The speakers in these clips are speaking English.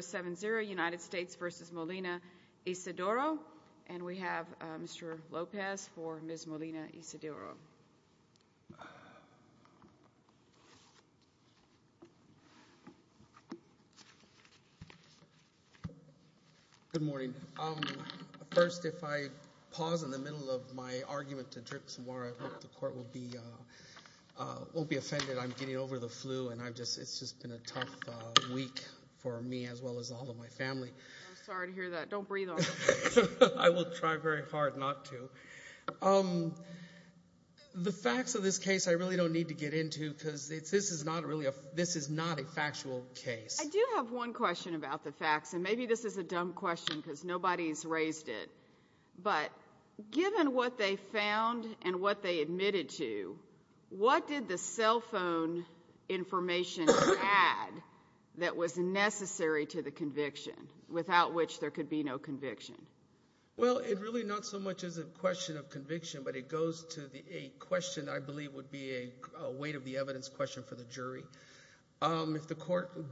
7-0 United States v. Molina-Isidoro. And we have Mr. Lopez for Ms. Molina-Isidoro. Good morning. First, if I pause in the middle of my argument to drip some water, I hope the court won't be offended. I'm getting over the flu and it's just been a tough week for me as well as all of my family. I'm sorry to hear that. Don't breathe on me. I will try very hard not to. The facts of this case I really don't need to get into because this is not a factual case. I do have one question about the facts, and maybe this is a dumb question because nobody's raised it. But given what they found and what they admitted to, what did the cell phone information add that was necessary to the conviction, without which there could be no conviction? Well, it really not so much as a question of conviction, but it goes to a question that I believe would be a weight of the evidence question for the jury.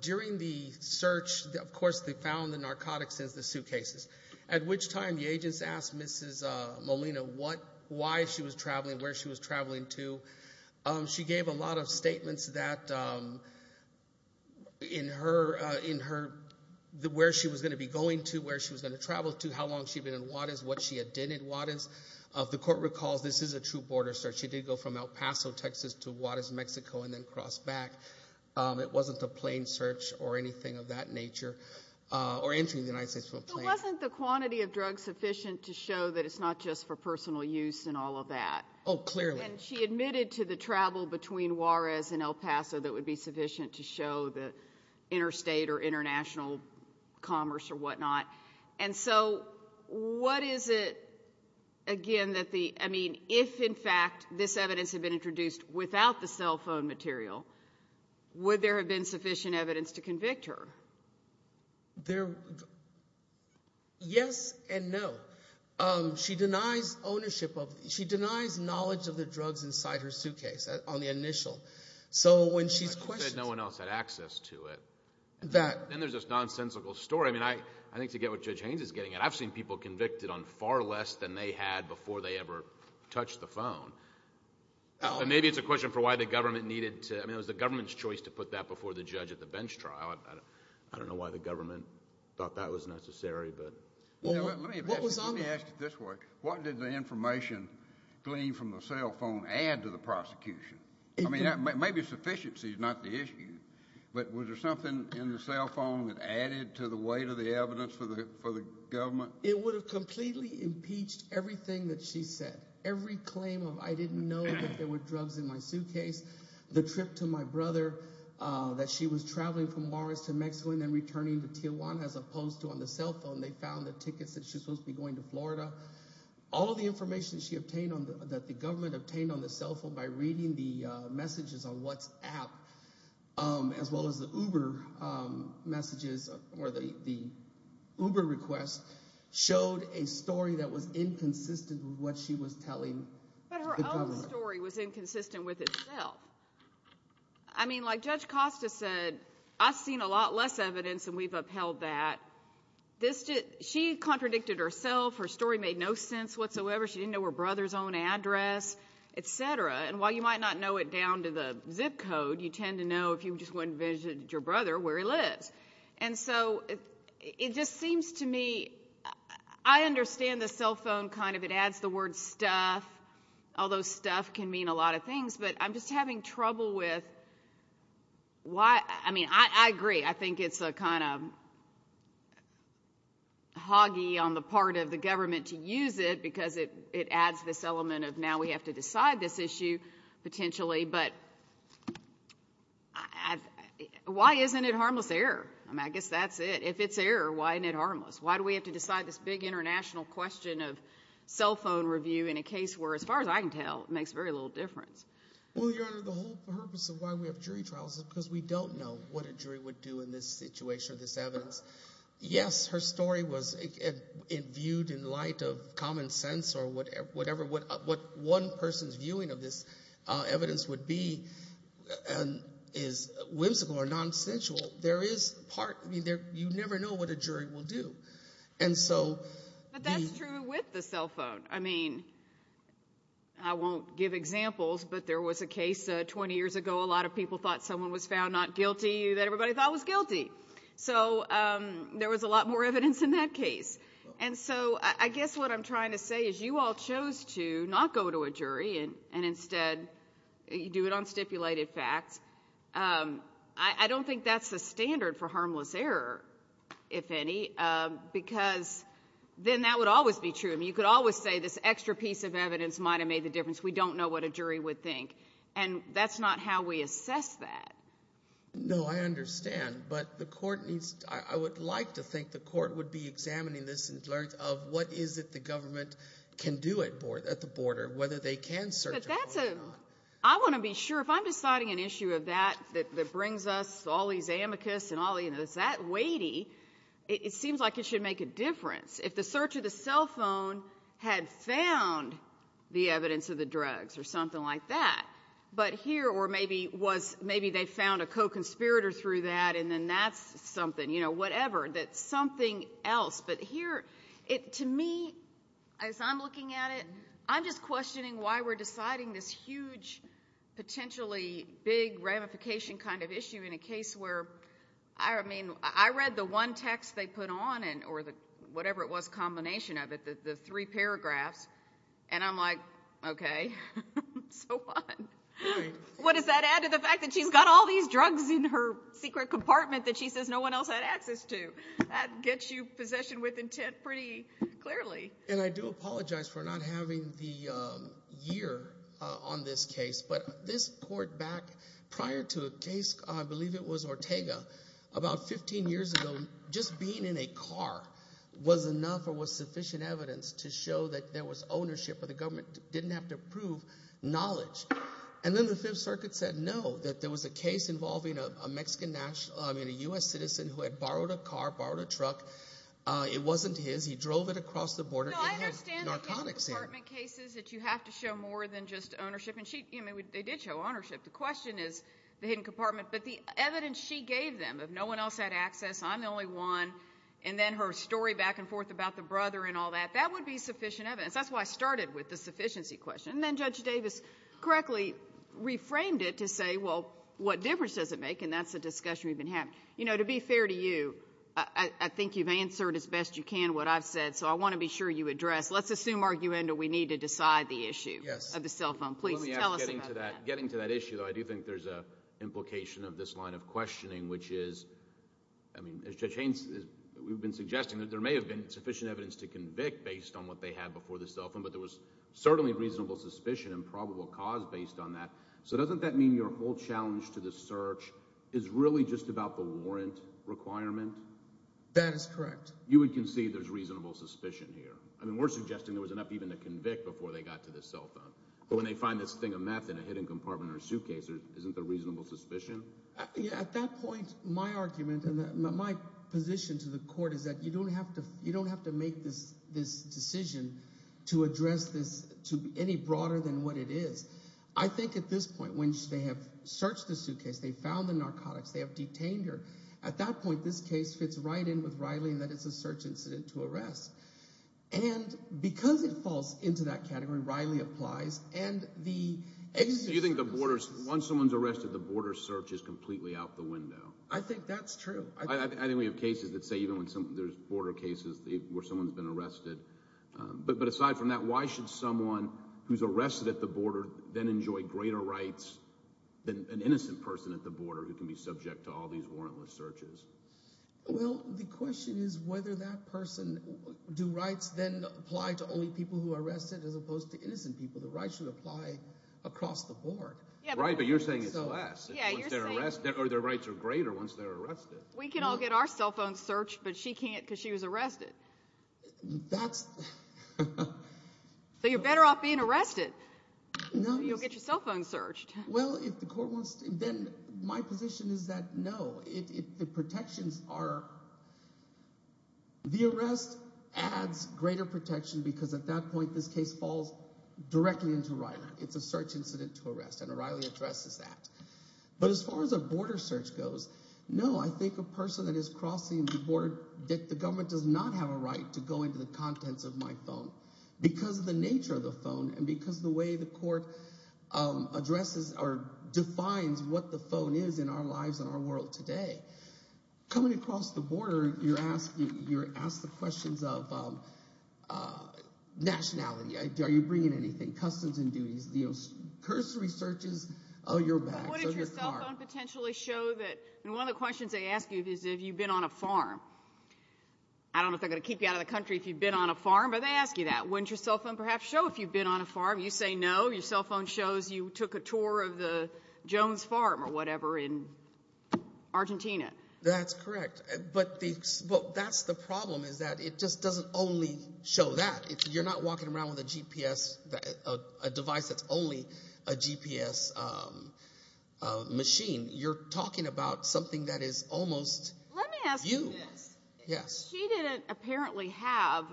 During the search, of course, they found the narcotics in the suitcases, at which time the agents asked Mrs. Molina why she was traveling, where she was traveling to. She gave a lot of statements that in her, where she was going to be going to, where she was going to travel to, how long she'd been in Juarez, what she had done in Juarez. The court recalls this is a true border search. She did go from El Paso, Texas to Juarez, Mexico, and then crossed back. It wasn't a plane search or anything of that nature, or entering the United States with a plane. But wasn't the quantity of drugs sufficient to show that it's not just for personal use and all of that? Oh, clearly. And she admitted to the travel between Juarez and El Paso that would be sufficient to show the interstate or international commerce or whatnot. And so, what is it, again, that the, I mean, if in fact this evidence had been introduced without the cell phone material, would there have been sufficient evidence to convict her? There, yes and no. She denies ownership of, she denies knowledge of the drugs inside her suitcase, on the initial. So when she's questioned. You said no one else had access to it. That. Then there's this nonsensical story. I mean, I think to get what Judge Haynes is getting at, I've seen people convicted on far less than they had before they ever touched the phone. Maybe it's a question for why the government needed to, I mean, it was the government's choice to put that before the judge at the bench trial. I don't know why the government thought that was necessary, but. Let me ask it this way. What did the information gleaned from the cell phone add to the prosecution? I mean, maybe sufficiency is not the issue, but was there something in the cell phone that added to the weight of the evidence for the government? It would have completely impeached everything that she said. Every claim of, I didn't know that there were drugs in my suitcase, the trip to my brother, that she was traveling from Morris to Mexico and then returning to Tijuana as opposed to on the cell phone, they found the tickets that she was supposed to be going to Florida. All of the information that she obtained on the, that the government obtained on the cell phone by reading the messages on WhatsApp, as well as the Uber messages or the Uber request showed a story that was inconsistent with what she was telling. But her own story was inconsistent with itself. I mean, like Judge Costa said, I've seen a lot less evidence and we've upheld that. She contradicted herself. Her story made no sense whatsoever. She didn't know her brother's own address, et cetera. And while you might not know it down to the zip code, you tend to know if you just went and visited your brother where he lives. And so it just seems to me, I understand the cell phone kind of it adds the word stuff, although stuff can mean a lot of things, but I'm just having trouble with why, I mean, I agree. I think it's a kind of hoggy on the part of the government to use it because it adds this element of now we have to decide this issue potentially, but why isn't it harmless error? I mean, I guess that's it. If it's error, why isn't it harmless? Why do we have to decide this big international question of cell phone review in a case where as far as I can tell, it makes very little difference. Well, Your Honor, the whole purpose of why we have jury trials is because we don't know what a jury would do in this situation or this evidence. Yes, her story was viewed in light of common sense or whatever, what one person's viewing of this evidence would be is whimsical or nonsensical. There is part, you never know what a jury will do. And so But that's true with the cell phone. I mean, I won't give examples, but there was a case 20 years ago, a lot of people thought someone was found not guilty that everybody thought was guilty. So there was a lot more evidence in that case. And so I guess what I'm trying to say is you all chose to not go to a jury and instead you do it on stipulated facts. I don't think that's the standard for harmless error, if any, because then that would always be true. I mean, you could always say this extra piece of evidence might have made the And that's not how we assess that. No, I understand. But the court needs, I would like to think the court would be examining this in terms of what is it the government can do at the border, whether they can search But that's a, I want to be sure if I'm deciding an issue of that, that brings us all these amicus and all that weighty, it seems like it should make a difference. If the search of the cell phone had found the evidence of the drugs or something like that, but here or maybe they found a co-conspirator through that and then that's something, you know, whatever, that's something else. But here, to me, as I'm looking at it, I'm just questioning why we're deciding this huge, potentially big ramification kind of issue in a case where I mean, I read the one text they put on or whatever it was, combination of it, the three paragraphs, and I'm like, okay, so what? Right. What does that add to the fact that she's got all these drugs in her secret compartment that she says no one else had access to? That gets you possession with intent pretty clearly. And I do apologize for not having the year on this case, but this court back prior to the case, I believe it was Ortega, about 15 years ago, just being in a car was enough or was sufficient evidence to show that there was ownership or the government didn't have to prove knowledge. And then the Fifth Circuit said no, that there was a case involving a Mexican national, I mean, a U.S. citizen who had borrowed a car, borrowed a truck. It wasn't his. He drove it across the border. No, I understand the health department cases that you have to show more than just But the evidence she gave them of no one else had access, I'm the only one, and then her story back and forth about the brother and all that, that would be sufficient evidence. That's why I started with the sufficiency question. And then Judge Davis correctly reframed it to say, well, what difference does it make? And that's the discussion we've been having. You know, to be fair to you, I think you've answered as best you can what I've said, so I want to be sure you address. Let's assume, arguendo, we need to decide the issue of the cell phone. Please tell us about that. Getting to that issue, though, I do think there's an implication of this line of questioning, which is, I mean, Judge Haynes, we've been suggesting that there may have been sufficient evidence to convict based on what they had before the cell phone, but there was certainly reasonable suspicion and probable cause based on that. So doesn't that mean your whole challenge to the search is really just about the warrant requirement? That is correct. You would concede there's reasonable suspicion here. I mean, we're suggesting there was enough even to convict before they got to the cell phone. But when they find this thing of meth in a hidden compartment or suitcase, isn't there reasonable suspicion? At that point, my argument and my position to the court is that you don't have to make this decision to address this to any broader than what it is. I think at this point, when they have searched the suitcase, they found the narcotics, they have detained her, at that point this case fits right in with Riley in that it's a search incident to arrest. And because it falls into that category, Riley applies, and the... So you think once someone's arrested, the border search is completely out the window? I think that's true. I think we have cases that say even when there's border cases where someone's been arrested. But aside from that, why should someone who's arrested at the border then enjoy greater rights than an innocent person at the border who can be subject to all these warrantless searches? Well, the question is whether that person do rights then apply to only people who are arrested as opposed to innocent people. The rights should apply across the board. Right, but you're saying it's less. Yeah, you're saying... Once they're arrested, or their rights are greater once they're arrested. We can all get our cell phones searched, but she can't because she was arrested. That's... So you're better off being arrested. No. You'll get your cell phones searched. Well, if the court wants to, then my position is that no. The protections are... The arrest adds greater protection because at that point, this case falls directly into O'Reilly. It's a search incident to arrest, and O'Reilly addresses that. But as far as a border search goes, no, I think a person that is crossing the border, that the government does not have a right to go into the contents of my phone because of the nature of the phone and because of the way the court addresses or defines what the phone is in our lives and our world today. Coming across the border, you're asked the questions of nationality. Are you bringing anything? Customs and duties, you know, cursory searches of your bags, of your car. Wouldn't your cell phone potentially show that... I mean, one of the questions they ask you is have you been on a farm. I don't know if they're going to keep you out of the country if you've been on a farm, but they ask you that. Wouldn't your cell phone perhaps show if you've been on a farm? You say no. Your cell phone shows you took a tour of the Jones Farm or whatever in Argentina. That's correct. But that's the problem is that it just doesn't only show that. If you're not walking around with a device that's only a GPS machine, you're talking about something that is almost you. Let me ask you this. Yes. She didn't apparently have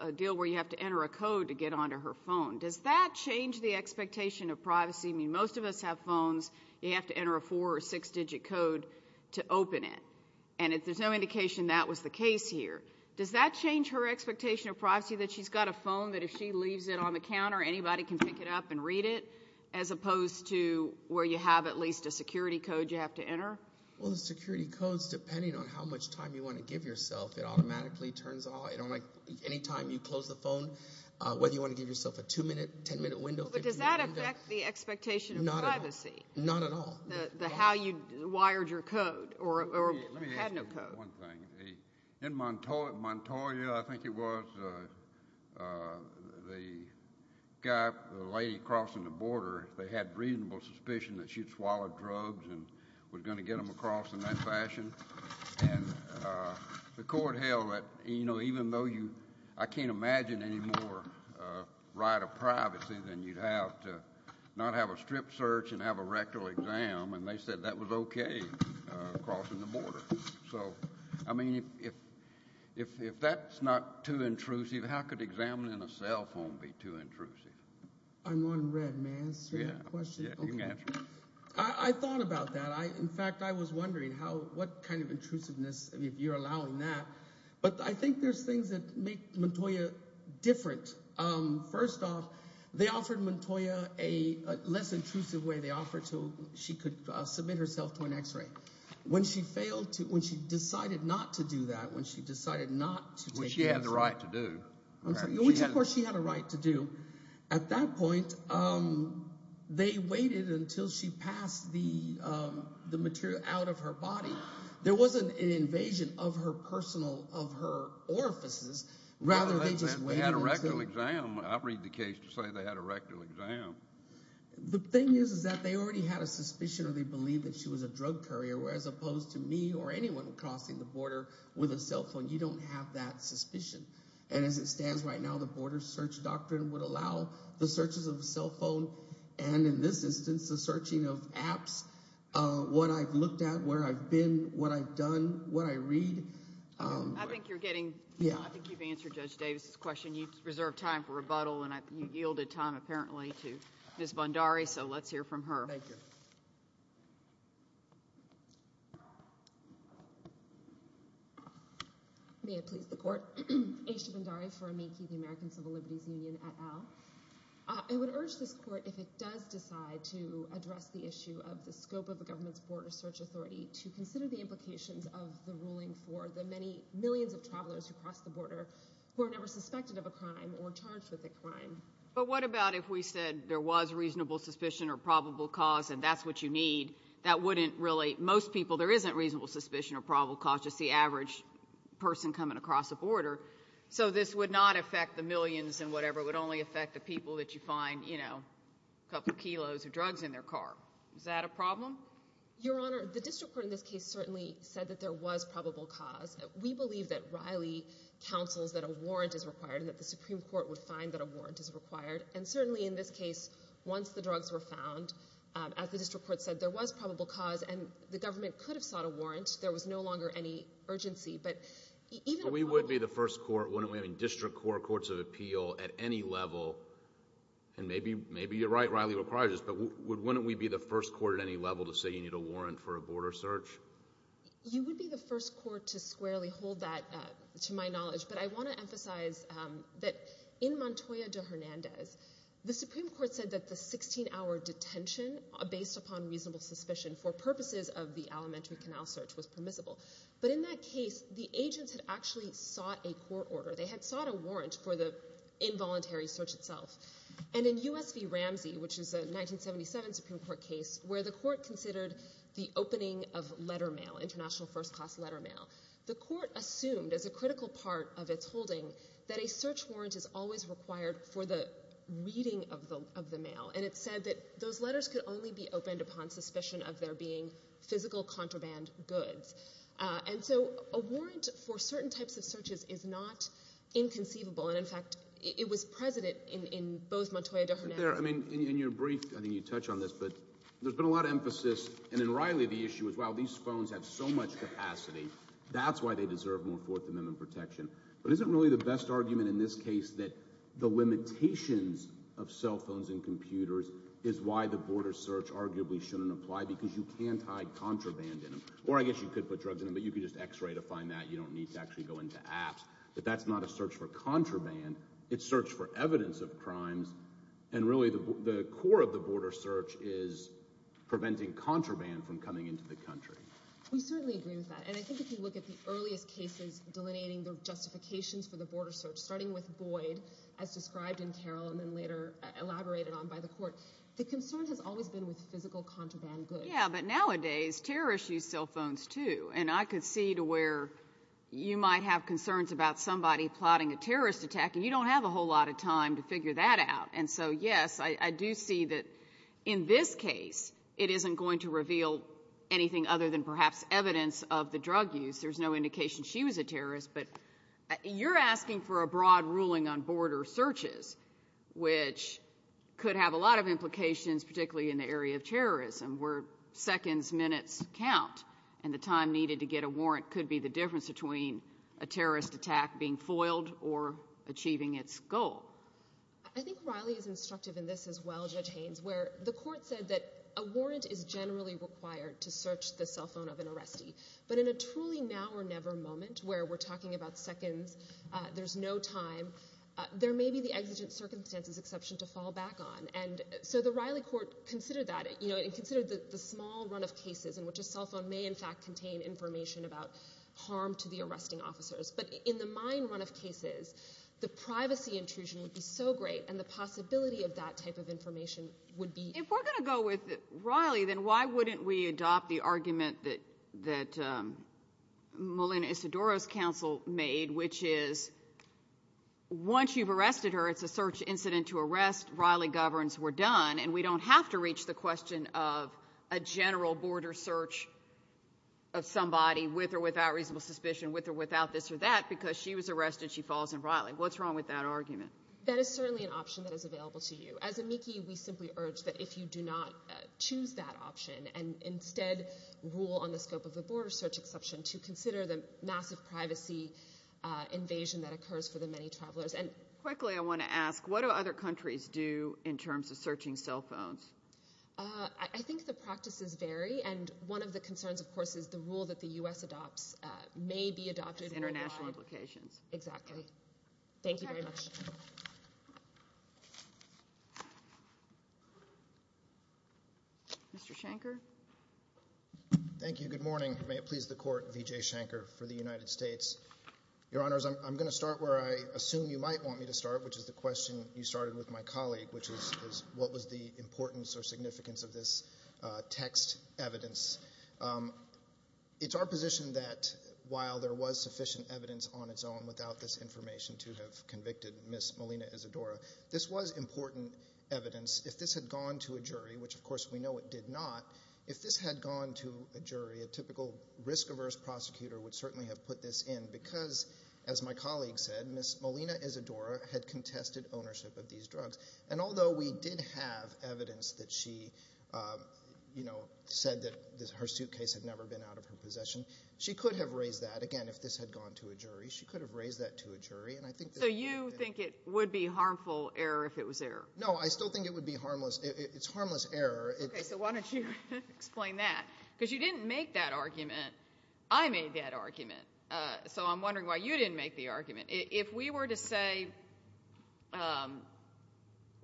a deal where you have to enter a code to get onto her phone. Does that change the expectation of privacy? I mean, most of us have phones. You have to enter a four- or six-digit code to open it. And there's no indication that was the case here. Does that change her expectation of privacy that she's got a phone that if she leaves it on the counter, anybody can pick it up and read it as opposed to where you have at least a security code you have to enter? Well, the security codes, depending on how much time you want to give yourself, it automatically turns on. Anytime you close the phone, whether you want to give yourself a two-minute, ten-minute window, 15-minute window. But does that affect the expectation of privacy? Not at all. Not at all. The how you wired your code or had no code. Let me ask you one thing. In Montoya, I think it was, the lady crossing the border, they had reasonable suspicion that she'd swallowed drugs and was going to get them across in that fashion. And the court held that even though you, I can't imagine any more right of privacy than you'd have to not have a strip search and have a rectal exam, and they said that was okay crossing the border. So, I mean, if that's not too intrusive, how could examining a cell phone be too intrusive? I'm on read. May I answer your question? Yeah, you can answer it. I thought about that. In fact, I was wondering what kind of intrusiveness, if you're allowing that. But I think there's things that make Montoya different. First off, they offered Montoya a less intrusive way. They offered so she could submit herself to an X-ray. When she failed to, when she decided not to do that, when she decided not to take the X-ray. Which she had the right to do. Which, of course, she had a right to do. At that point, they waited until she passed the material out of her body. There wasn't an invasion of her personal, of her orifices. Rather, they just waited. They had a rectal exam. I read the case to say they had a rectal exam. The thing is, is that they already had a suspicion or they believed that she was a drug courier, whereas opposed to me or anyone crossing the border with a cell phone, you don't have that suspicion. And as it stands right now, the border search doctrine would allow the searches of a cell phone and in this instance, the searching of apps. What I've looked at, where I've been, what I've done, what I read. I think you're getting, I think you've answered Judge Davis' question. You've reserved time for rebuttal and you yielded time apparently to Ms. Bondari. So let's hear from her. Thank you. May it please the court. Aisha Bondari for Amici, the American Civil Liberties Union et al. I would urge this court if it does decide to address the issue of the scope of the government's border search authority to consider the implications of the ruling for the many millions of travelers who cross the border who are never suspected of a crime or charged with a crime. But what about if we said there was reasonable suspicion or probable cause and that's what you need, that wouldn't really, most people there isn't reasonable suspicion or probable cause, just the average person coming across the border. So this would not affect the millions and whatever, it would only affect the people that you find, you know, a couple of kilos of drugs in their car. Is that a problem? Your Honor, the district court in this case certainly said that there was probable cause. We believe that Riley counsels that a warrant is required and that the Supreme Court would find that a warrant is required. And certainly in this case, once the drugs were found, as the district court said, there was probable cause and the government could have sought a warrant. There was no longer any urgency. We would be the first court, wouldn't we, in district court, courts of appeal at any level, and maybe you're right, Riley requires this, but wouldn't we be the first court at any level to say you need a warrant for a border search? You would be the first court to squarely hold that to my knowledge. But I want to emphasize that in Montoya de Hernandez, the Supreme Court said that the 16-hour detention based upon reasonable suspicion for purposes of the elementary canal search was permissible. But in that case, the agents had actually sought a court order. They had sought a warrant for the involuntary search itself. And in U.S. v. Ramsey, which is a 1977 Supreme Court case, where the court considered the opening of letter mail, international first class letter mail, the court assumed as a critical part of its holding that a search warrant is always required for the reading of the mail. And it said that those letters could only be opened upon suspicion of there being physical contraband goods. And so a warrant for certain types of searches is not inconceivable. And, in fact, it was present in both Montoya de Hernandez. In your brief, I think you touch on this, but there's been a lot of emphasis, and in Riley the issue is, wow, these phones have so much capacity. That's why they deserve more Fourth Amendment protection. But is it really the best argument in this case that the limitations of cell phones and computers is why the border search arguably shouldn't apply? Because you can't hide contraband in them. Or I guess you could put drugs in them, but you could just X-ray to find that. You don't need to actually go into apps. But that's not a search for contraband. It's search for evidence of crimes. And really the core of the border search is preventing contraband from coming into the country. We certainly agree with that. And I think if you look at the earliest cases delineating the justifications for the border search, starting with Boyd, as described in Carroll and then later elaborated on by the court, the concern has always been with physical contraband goods. Yeah, but nowadays terrorists use cell phones too. And I could see to where you might have concerns about somebody plotting a terrorist attack, and you don't have a whole lot of time to figure that out. And so, yes, I do see that in this case it isn't going to reveal anything other than perhaps evidence of the drug use. There's no indication she was a terrorist. But you're asking for a broad ruling on border searches, which could have a lot of implications, particularly in the area of terrorism, where seconds, minutes count. And the time needed to get a warrant could be the difference between a terrorist attack being foiled or achieving its goal. I think Riley is instructive in this as well, Judge Haynes, where the court said that a warrant is generally required to search the cell phone of an arrestee. But in a truly now or never moment where we're talking about seconds, there's no time, there may be the exigent circumstances exception to fall back on. And so the Riley court considered that and considered the small run of cases in which a cell phone may in fact contain information about harm to the arresting officers. But in the mine run of cases, the privacy intrusion would be so great, and the possibility of that type of information would be. If we're going to go with Riley, then why wouldn't we adopt the argument that Melinda Isidoro's counsel made, which is once you've arrested her, it's a search incident to arrest, Riley governs, we're done, and we don't have to reach the question of a general border search of somebody with or without reasonable suspicion, with or without this or that, because she was arrested, she falls in Riley. What's wrong with that argument? That is certainly an option that is available to you. As amici, we simply urge that if you do not choose that option and instead rule on the scope of the border search exception to consider the massive privacy invasion that occurs for the many travelers. Quickly, I want to ask, what do other countries do in terms of searching cell phones? I think the practices vary, and one of the concerns, of course, is the rule that the U.S. adopts may be adopted. Exactly. Thank you very much. Mr. Shanker. Thank you. Good morning. May it please the Court, Vijay Shanker for the United States. Your Honors, I'm going to start where I assume you might want me to start, which is the question you started with my colleague, which is what was the importance or significance of this text evidence. It's our position that while there was sufficient evidence on its own without this information to have convicted Ms. Molina-Isadora, this was important evidence. If this had gone to a jury, which of course we know it did not, if this had gone to a jury, a typical risk-averse prosecutor would certainly have put this in because, as my colleague said, Ms. Molina-Isadora had contested ownership of these drugs. And although we did have evidence that she, you know, said that her suitcase had never been out of her possession, she could have raised that, again, if this had gone to a jury. She could have raised that to a jury. So you think it would be harmful error if it was error? No, I still think it would be harmless. It's harmless error. Okay, so why don't you explain that? Because you didn't make that argument. I made that argument. So I'm wondering why you didn't make the argument. If we were to say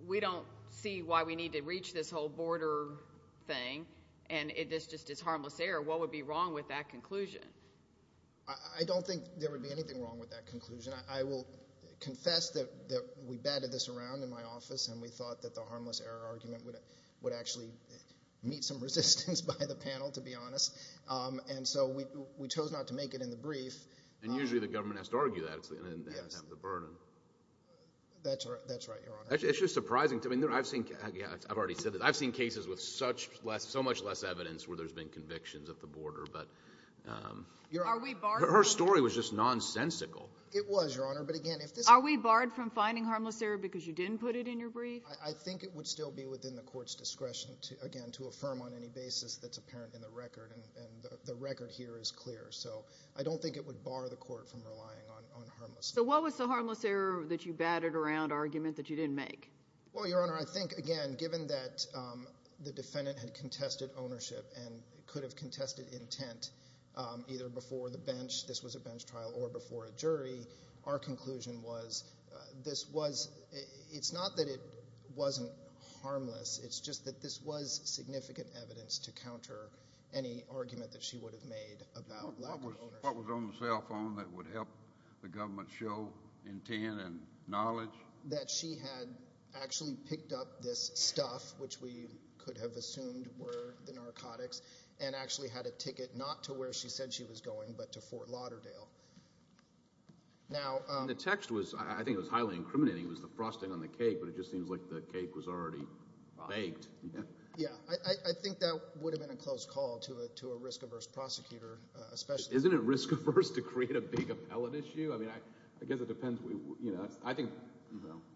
we don't see why we need to reach this whole border thing and this just is harmless error, what would be wrong with that conclusion? I don't think there would be anything wrong with that conclusion. I will confess that we batted this around in my office and we thought that the harmless error argument would actually meet some resistance by the panel, to be honest. And so we chose not to make it in the brief. And usually the government has to argue that and have the burden. That's right, Your Honor. It's just surprising. I've seen cases with so much less evidence where there's been convictions at the border. But her story was just nonsensical. It was, Your Honor. Are we barred from finding harmless error because you didn't put it in your brief? I think it would still be within the court's discretion, again, to affirm on any basis that's apparent in the record, and the record here is clear. So I don't think it would bar the court from relying on harmless error. So what was the harmless error that you batted around argument that you didn't make? Well, Your Honor, I think, again, given that the defendant had contested ownership and could have contested intent either before the bench, this was a bench trial, or before a jury, our conclusion was this was – it's not that it wasn't harmless. It's just that this was significant evidence to counter any argument that she would have made about lack of ownership. What was on the cell phone that would help the government show intent and knowledge? That she had actually picked up this stuff, which we could have assumed were the narcotics, and actually had a ticket not to where she said she was going but to Fort Lauderdale. The text was – I think it was highly incriminating. It was the frosting on the cake, but it just seems like the cake was already baked. Yeah, I think that would have been a close call to a risk-averse prosecutor. Isn't it risk-averse to create a big appellate issue? I mean, I guess it depends.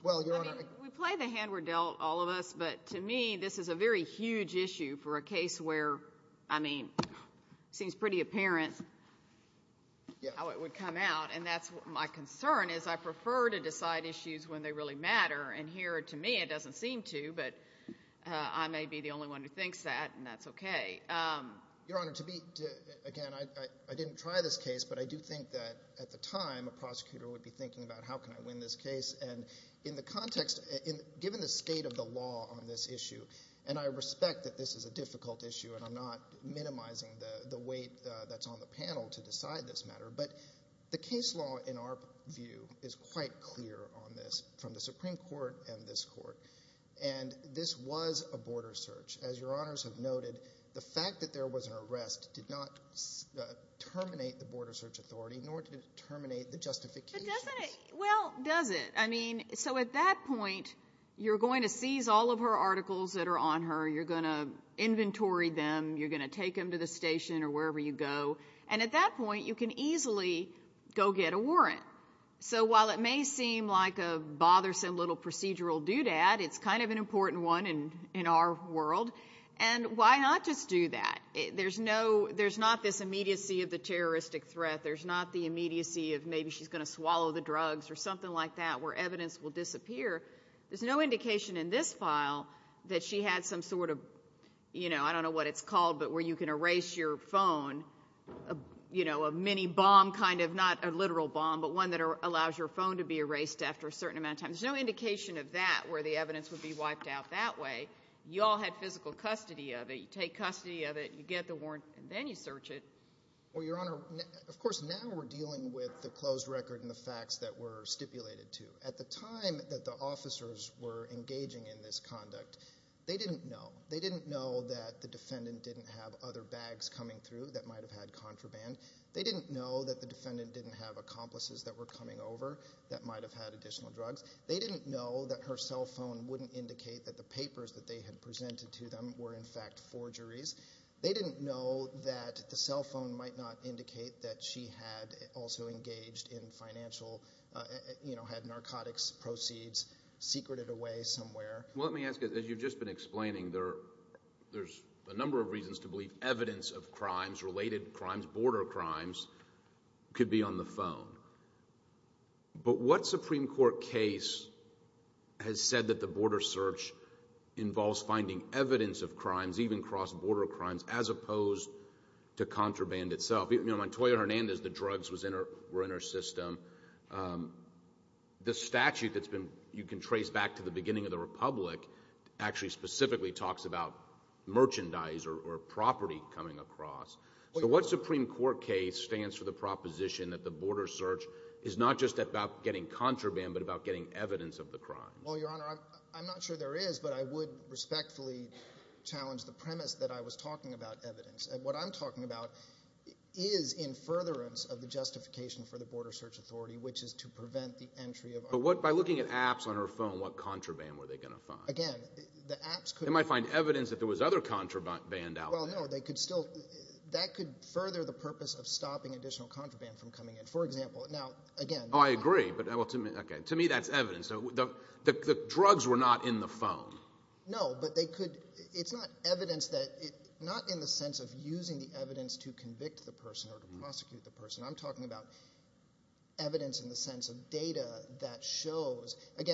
Well, Your Honor, we play the hand we're dealt, all of us, but to me this is a very huge issue for a case where, I mean, it seems pretty apparent how it would come out. And that's my concern is I prefer to decide issues when they really matter. And here, to me, it doesn't seem to, but I may be the only one who thinks that, and that's okay. Your Honor, to be – again, I didn't try this case, but I do think that at the time a prosecutor would be thinking about how can I win this case. And in the context – given the state of the law on this issue, and I respect that this is a difficult issue and I'm not minimizing the weight that's on the panel to decide this matter, but the case law, in our view, is quite clear on this from the Supreme Court and this Court. And this was a border search. As Your Honors have noted, the fact that there was an arrest did not terminate the Border Search Authority nor did it terminate the justifications. But doesn't it – well, does it? I mean, so at that point you're going to seize all of her articles that are on her. You're going to inventory them. You're going to take them to the station or wherever you go. And at that point you can easily go get a warrant. So while it may seem like a bothersome little procedural doodad, it's kind of an important one in our world. And why not just do that? There's no – there's not this immediacy of the terroristic threat. There's not the immediacy of maybe she's going to swallow the drugs or something like that where evidence will disappear. There's no indication in this file that she had some sort of – you know, a mini-bomb kind of – not a literal bomb, but one that allows your phone to be erased after a certain amount of time. There's no indication of that where the evidence would be wiped out that way. You all had physical custody of it. You take custody of it. You get the warrant, and then you search it. Well, Your Honor, of course now we're dealing with the closed record and the facts that were stipulated to. At the time that the officers were engaging in this conduct, they didn't know. They didn't know that the defendant didn't have other bags coming through that might have had contraband. They didn't know that the defendant didn't have accomplices that were coming over that might have had additional drugs. They didn't know that her cell phone wouldn't indicate that the papers that they had presented to them were in fact forgeries. They didn't know that the cell phone might not indicate that she had also engaged in financial – had narcotics proceeds secreted away somewhere. Well, let me ask you, as you've just been explaining, there's a number of reasons to believe evidence of crimes, related crimes, border crimes, could be on the phone. But what Supreme Court case has said that the border search involves finding evidence of crimes, even cross-border crimes, as opposed to contraband itself? You know, Montoya Hernandez, the drugs were in her system. The statute that's been – you can trace back to the beginning of the Republic actually specifically talks about merchandise or property coming across. So what Supreme Court case stands for the proposition that the border search is not just about getting contraband but about getting evidence of the crime? Well, Your Honor, I'm not sure there is, but I would respectfully challenge the premise that I was talking about evidence. What I'm talking about is in furtherance of the justification for the Border Search Authority, which is to prevent the entry of – But what – by looking at apps on her phone, what contraband were they going to find? Again, the apps could – They might find evidence that there was other contraband out there. Well, no, they could still – that could further the purpose of stopping additional contraband from coming in. For example, now, again – Oh, I agree, but to me that's evidence. The drugs were not in the phone. No, but they could – it's not evidence that – not in the sense of using the evidence to convict the person or to prosecute the person. I'm talking about evidence in the sense of data that shows – that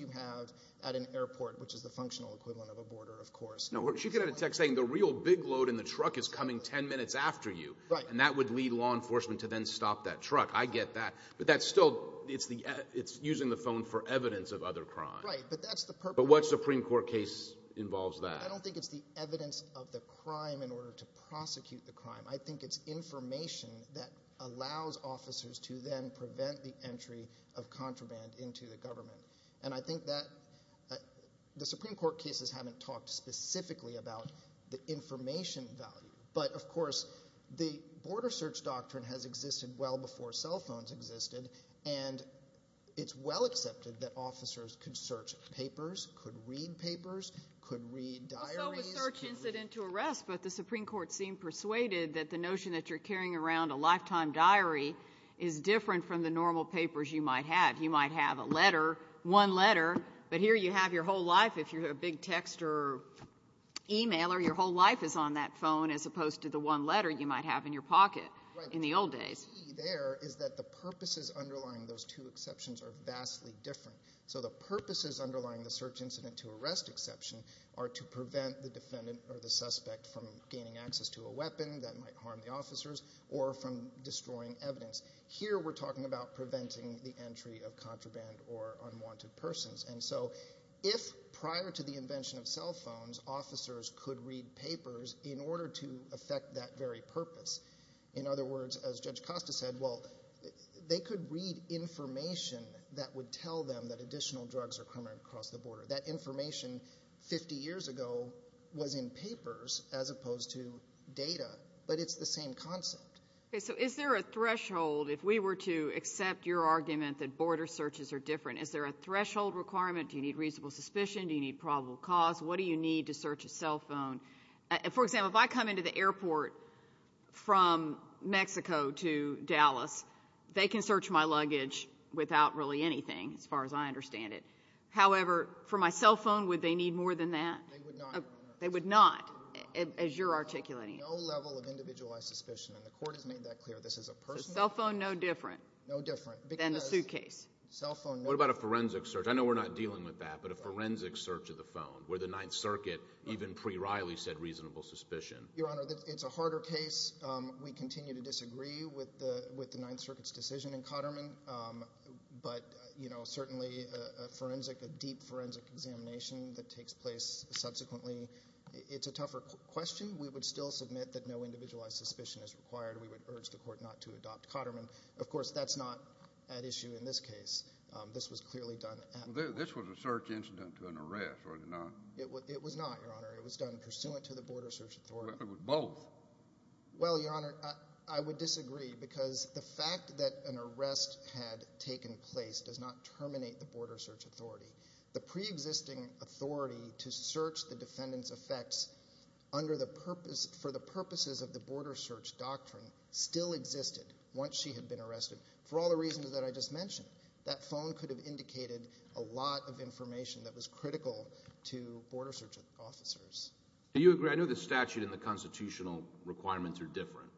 you have at an airport, which is the functional equivalent of a border, of course. No, she could have a text saying, the real big load in the truck is coming 10 minutes after you, and that would lead law enforcement to then stop that truck. I get that. But that's still – it's using the phone for evidence of other crime. Right, but that's the purpose. But what Supreme Court case involves that? I don't think it's the evidence of the crime in order to prosecute the crime. And I think that the Supreme Court cases haven't talked specifically about the information value. But, of course, the border search doctrine has existed well before cell phones existed, and it's well accepted that officers could search papers, could read papers, could read diaries. Well, so was search incident to arrest, but the Supreme Court seemed persuaded that the notion that you're carrying around a lifetime diary is different from the normal papers you might have. You might have a letter, one letter, but here you have your whole life. If you have a big text or e-mailer, your whole life is on that phone as opposed to the one letter you might have in your pocket in the old days. Right, but the key there is that the purposes underlying those two exceptions are vastly different. So the purposes underlying the search incident to arrest exception are to prevent the defendant or the suspect from gaining access to a weapon that might harm the officers or from destroying evidence. Here we're talking about preventing the entry of contraband or unwanted persons. And so if prior to the invention of cell phones, officers could read papers in order to affect that very purpose, in other words, as Judge Costa said, well, they could read information that would tell them that additional drugs are coming across the border. That information 50 years ago was in papers as opposed to data, but it's the same concept. Okay, so is there a threshold if we were to accept your argument that border searches are different? Is there a threshold requirement? Do you need reasonable suspicion? Do you need probable cause? What do you need to search a cell phone? For example, if I come into the airport from Mexico to Dallas, they can search my luggage without really anything as far as I understand it. However, for my cell phone, would they need more than that? They would not. They would not as you're articulating. There is no level of individualized suspicion, and the court has made that clear. This is a personal. So cell phone no different than the suitcase. What about a forensic search? I know we're not dealing with that, but a forensic search of the phone where the Ninth Circuit even pre-Reilly said reasonable suspicion. Your Honor, it's a harder case. We continue to disagree with the Ninth Circuit's decision in Cotterman, but certainly a forensic, a deep forensic examination that takes place subsequently, it's a tougher question. We would still submit that no individualized suspicion is required. We would urge the court not to adopt Cotterman. Of course, that's not at issue in this case. This was clearly done at the court. This was a search incident to an arrest, was it not? It was not, Your Honor. It was done pursuant to the border search authority. It was both. Well, Your Honor, I would disagree because the fact that an arrest had taken place does not terminate the border search authority. The pre-existing authority to search the defendant's effects for the purposes of the border search doctrine still existed once she had been arrested for all the reasons that I just mentioned. That phone could have indicated a lot of information that was critical to border search officers. Do you agree? I know the statute and the constitutional requirements are different,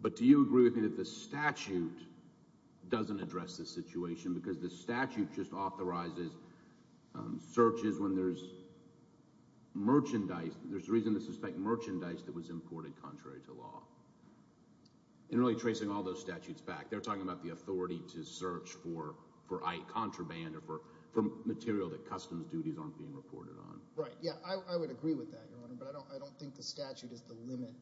but do you agree with me that the statute doesn't address this situation because the statute just authorizes searches when there's merchandise. There's reason to suspect merchandise that was imported contrary to law. In really tracing all those statutes back, they're talking about the authority to search for contraband or for material that customs duties aren't being reported on. Right, yeah, I would agree with that, Your Honor, but I don't think the statute is the limit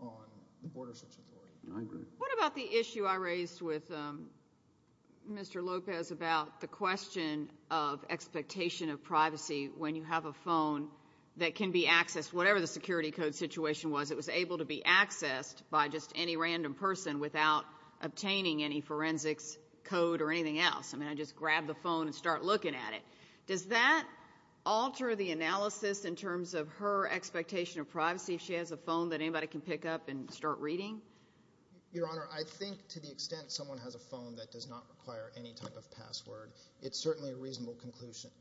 on the border search authority. I agree. What about the issue I raised with Mr. Lopez about the question of expectation of privacy when you have a phone that can be accessed, whatever the security code situation was, it was able to be accessed by just any random person without obtaining any forensics code or anything else. I mean, I just grab the phone and start looking at it. Does that alter the analysis in terms of her expectation of privacy if she has a phone that anybody can pick up and start reading? Your Honor, I think to the extent someone has a phone that does not require any type of password, it's certainly a reasonable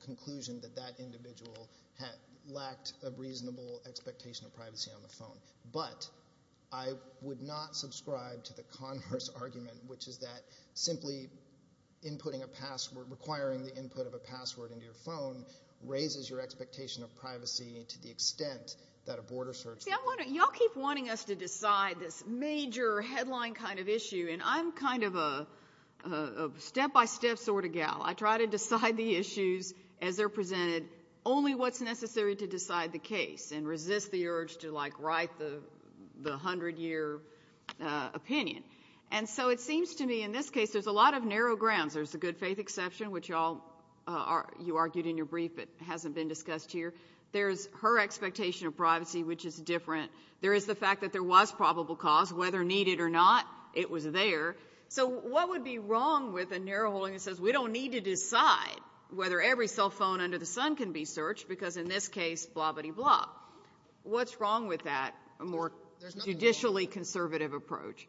conclusion that that individual lacked a reasonable expectation of privacy on the phone. But I would not subscribe to the converse argument, which is that simply inputting a password, requiring the input of a password into your phone, raises your expectation of privacy to the extent that a border search. You see, you all keep wanting us to decide this major headline kind of issue, and I'm kind of a step-by-step sort of gal. I try to decide the issues as they're presented, only what's necessary to decide the case and resist the urge to write the 100-year opinion. And so it seems to me in this case there's a lot of narrow grounds. There's the good faith exception, which you argued in your brief but hasn't been discussed here. There's her expectation of privacy, which is different. There is the fact that there was probable cause. Whether needed or not, it was there. So what would be wrong with a narrow holding that says, we don't need to decide whether every cell phone under the sun can be searched because in this case, blah-biddy-blah. What's wrong with that, a more judicially conservative approach?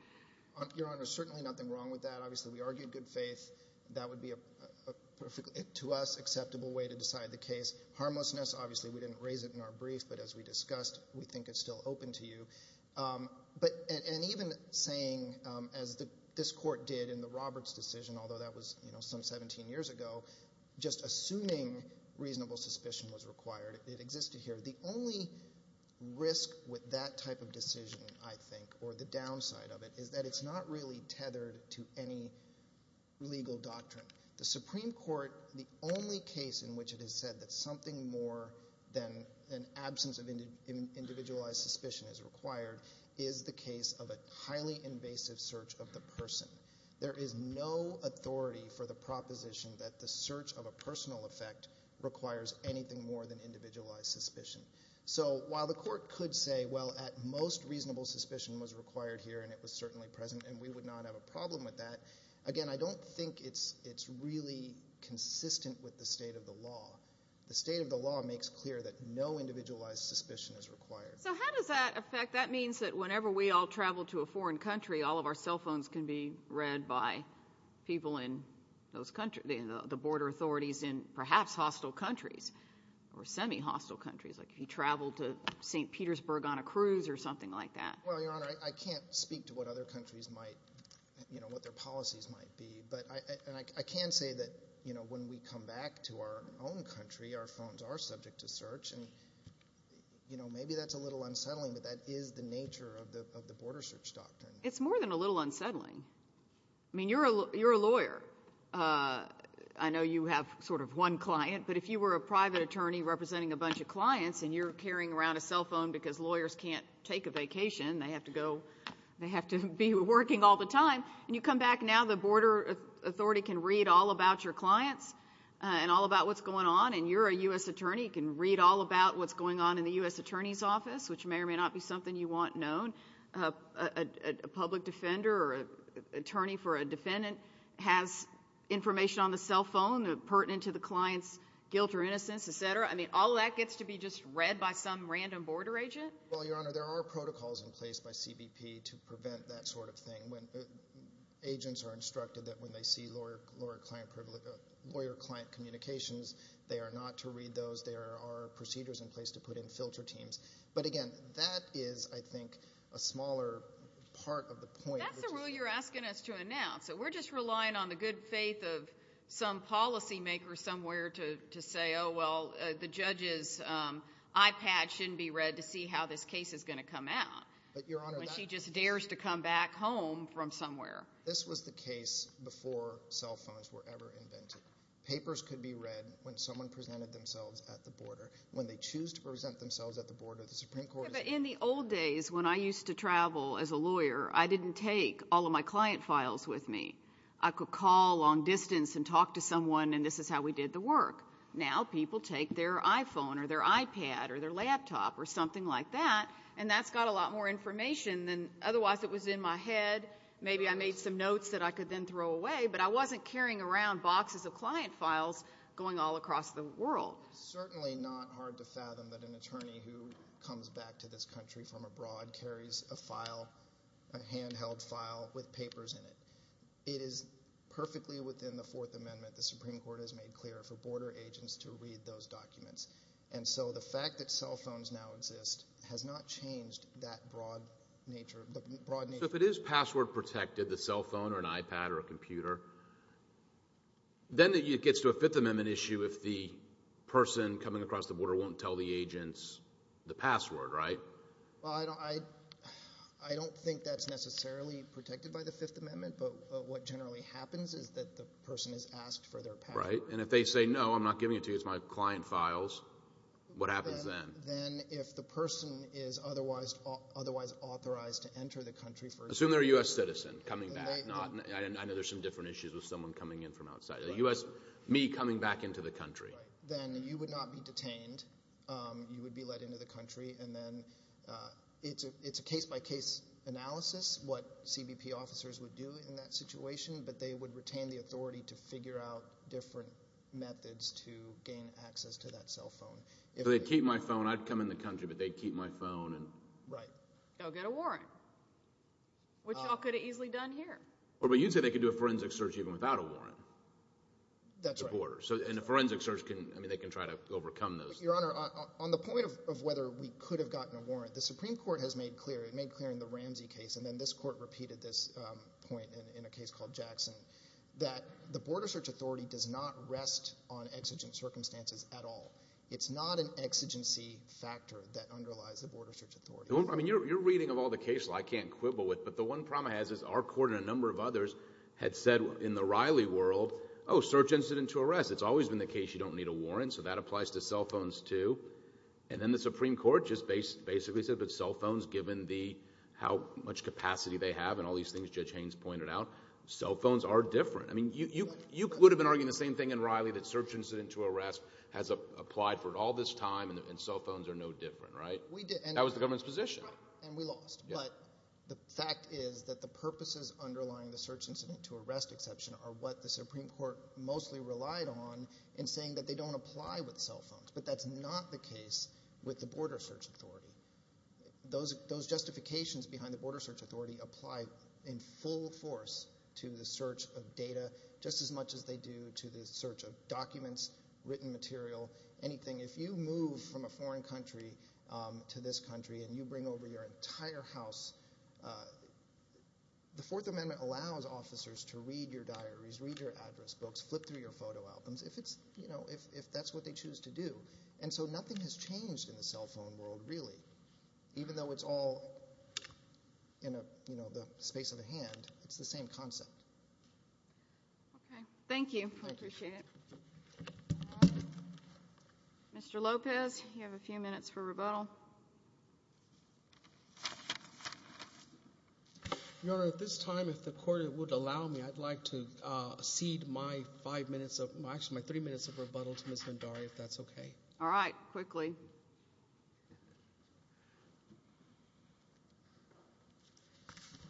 Your Honor, there's certainly nothing wrong with that. Obviously, we argued good faith. That would be, to us, an acceptable way to decide the case. Harmlessness, obviously, we didn't raise it in our brief, but as we discussed, we think it's still open to you. And even saying, as this Court did in the Roberts decision, although that was some 17 years ago, just assuming reasonable suspicion was required, it existed here. The only risk with that type of decision, I think, or the downside of it, is that it's not really tethered to any legal doctrine. The Supreme Court, the only case in which it has said that something more than an absence of individualized suspicion is required, is the case of a highly invasive search of the person. There is no authority for the proposition that the search of a personal effect requires anything more than individualized suspicion. So while the Court could say, well, at most, reasonable suspicion was required here and it was certainly present and we would not have a problem with that, again, I don't think it's really consistent with the state of the law. The state of the law makes clear that no individualized suspicion is required. So how does that affect – that means that whenever we all travel to a foreign country, all of our cell phones can be read by people in those – the border authorities in perhaps hostile countries or semi-hostile countries, like if you travel to St. Petersburg on a cruise or something like that. Well, Your Honor, I can't speak to what other countries might – what their policies might be, and I can say that when we come back to our own country, our phones are subject to search, and maybe that's a little unsettling, but that is the nature of the border search doctrine. It's more than a little unsettling. I mean, you're a lawyer. I know you have sort of one client, but if you were a private attorney representing a bunch of clients and you're carrying around a cell phone because lawyers can't take a vacation, they have to go – they have to be working all the time, and you come back now, the border authority can read all about your clients and all about what's going on, and you're a U.S. attorney. You can read all about what's going on in the U.S. attorney's office, which may or may not be something you want known. A public defender or attorney for a defendant has information on the cell phone pertinent to the client's guilt or innocence, et cetera. I mean, all that gets to be just read by some random border agent? Well, Your Honor, there are protocols in place by CBP to prevent that sort of thing. Agents are instructed that when they see lawyer-client communications, they are not to read those. There are procedures in place to put in filter teams. But, again, that is, I think, a smaller part of the point. That's the rule you're asking us to announce. We're just relying on the good faith of some policymaker somewhere to say, oh, well, the judge's iPad shouldn't be read to see how this case is going to come out when she just dares to come back home from somewhere. This was the case before cell phones were ever invented. Papers could be read when someone presented themselves at the border, when they choose to present themselves at the border. The Supreme Court has done that. But in the old days, when I used to travel as a lawyer, I didn't take all of my client files with me. I could call long distance and talk to someone, and this is how we did the work. Now people take their iPhone or their iPad or their laptop or something like that, and that's got a lot more information than otherwise it was in my head. Maybe I made some notes that I could then throw away, but I wasn't carrying around boxes of client files going all across the world. It's certainly not hard to fathom that an attorney who comes back to this country from abroad carries a file, a handheld file, with papers in it. It is perfectly within the Fourth Amendment. The Supreme Court has made clear for border agents to read those documents. And so the fact that cell phones now exist has not changed that broad nature. So if it is password protected, the cell phone or an iPad or a computer, then it gets to a Fifth Amendment issue if the person coming across the border won't tell the agents the password, right? Well, I don't think that's necessarily protected by the Fifth Amendment, but what generally happens is that the person is asked for their password. And if they say, no, I'm not giving it to you, it's my client files, what happens then? Then if the person is otherwise authorized to enter the country for example. Assume they're a U.S. citizen coming back. I know there's some different issues with someone coming in from outside. A U.S. me coming back into the country. Then you would not be detained. You would be let into the country, and then it's a case-by-case analysis. What CBP officers would do in that situation, but they would retain the authority to figure out different methods to gain access to that cell phone. So they'd keep my phone. I'd come in the country, but they'd keep my phone. Right. Go get a warrant, which you all could have easily done here. Well, but you'd say they could do a forensic search even without a warrant. That's right. And a forensic search, they can try to overcome those. Your Honor, on the point of whether we could have gotten a warrant, the Supreme Court has made clear, it made clear in the Ramsey case, and then this court repeated this point in a case called Jackson, that the Border Search Authority does not rest on exigent circumstances at all. It's not an exigency factor that underlies the Border Search Authority. I mean, you're reading of all the cases I can't quibble with, but the one problem it has is our court and a number of others had said in the Riley world, oh, search incident to arrest. It's always been the case you don't need a warrant, so that applies to cell phones too. And then the Supreme Court just basically said, given how much capacity they have and all these things Judge Haynes pointed out, cell phones are different. I mean, you could have been arguing the same thing in Riley that search incident to arrest has applied for all this time and cell phones are no different, right? We did. That was the government's position. And we lost. But the fact is that the purposes underlying the search incident to arrest exception are what the Supreme Court mostly relied on in saying that they don't apply with cell phones. But that's not the case with the Border Search Authority. Those justifications behind the Border Search Authority apply in full force to the search of data, just as much as they do to the search of documents, written material, anything. If you move from a foreign country to this country and you bring over your entire house, the Fourth Amendment allows officers to read your diaries, read your address books, flip through your photo albums. If that's what they choose to do. And so nothing has changed in the cell phone world, really. Even though it's all in the space of a hand, it's the same concept. Okay. Thank you. I appreciate it. Mr. Lopez, you have a few minutes for rebuttal. Your Honor, at this time, if the Court would allow me, I'd like to cede my three minutes of rebuttal to Ms. Vendari, if that's okay. All right. Quickly.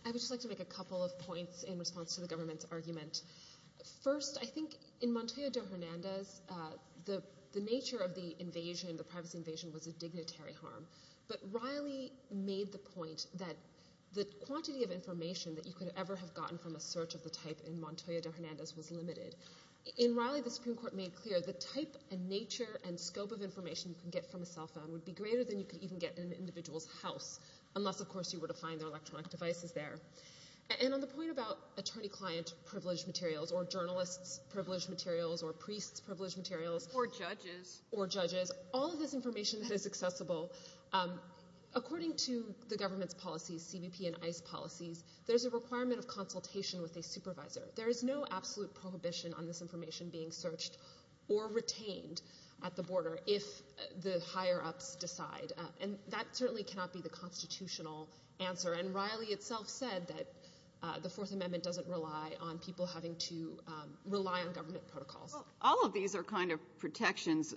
I would just like to make a couple of points in response to the government's argument. First, I think in Montoya de Hernandez, the nature of the invasion, the privacy invasion, was a dignitary harm. But Riley made the point that the quantity of information that you could ever have gotten from a search of the type in Montoya de Hernandez was limited. In Riley, the Supreme Court made clear the type and nature and scope of information you can get from a cell phone would be greater than you could even get in an individual's house, unless, of course, you were to find their electronic devices there. And on the point about attorney-client-privileged materials or journalists-privileged materials or priests-privileged materials Or judges. Or judges. All of this information that is accessible, according to the government's policies, CBP and ICE policies, there's a requirement of consultation with a supervisor. There is no absolute prohibition on this information being searched or retained at the border if the higher-ups decide. And that certainly cannot be the constitutional answer. And Riley itself said that the Fourth Amendment doesn't rely on people having to rely on government protocols. Well, all of these are kind of protections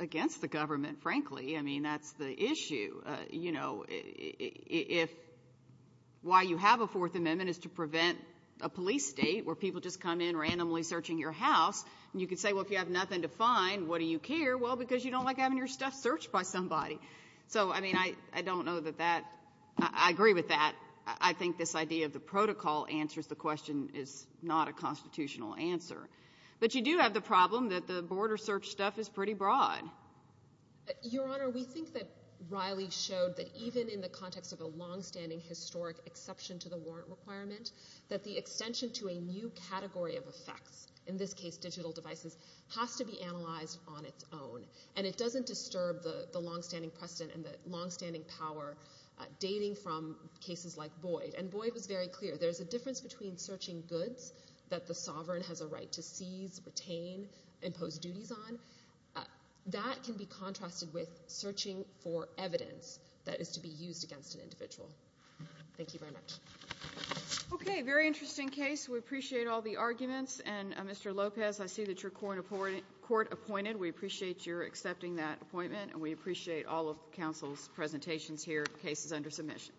against the government, frankly. I mean, that's the issue. If why you have a Fourth Amendment is to prevent a police state where people just come in randomly searching your house, you could say, well, if you have nothing to find, what do you care? Well, because you don't like having your stuff searched by somebody. So, I mean, I don't know that that – I agree with that. I think this idea of the protocol answers the question is not a constitutional answer. But you do have the problem that the border search stuff is pretty broad. Your Honor, we think that Riley showed that even in the context of a longstanding historic exception to the warrant requirement, that the extension to a new category of effects, in this case digital devices, has to be analyzed on its own. And it doesn't disturb the longstanding precedent and the longstanding power dating from cases like Boyd. And Boyd was very clear. There's a difference between searching goods that the sovereign has a right to seize, retain, impose duties on. That can be contrasted with searching for evidence that is to be used against an individual. Thank you very much. Okay, very interesting case. We appreciate all the arguments. And, Mr. Lopez, I see that you're court-appointed. We appreciate your accepting that appointment, and we appreciate all of counsel's presentations here, cases under submission.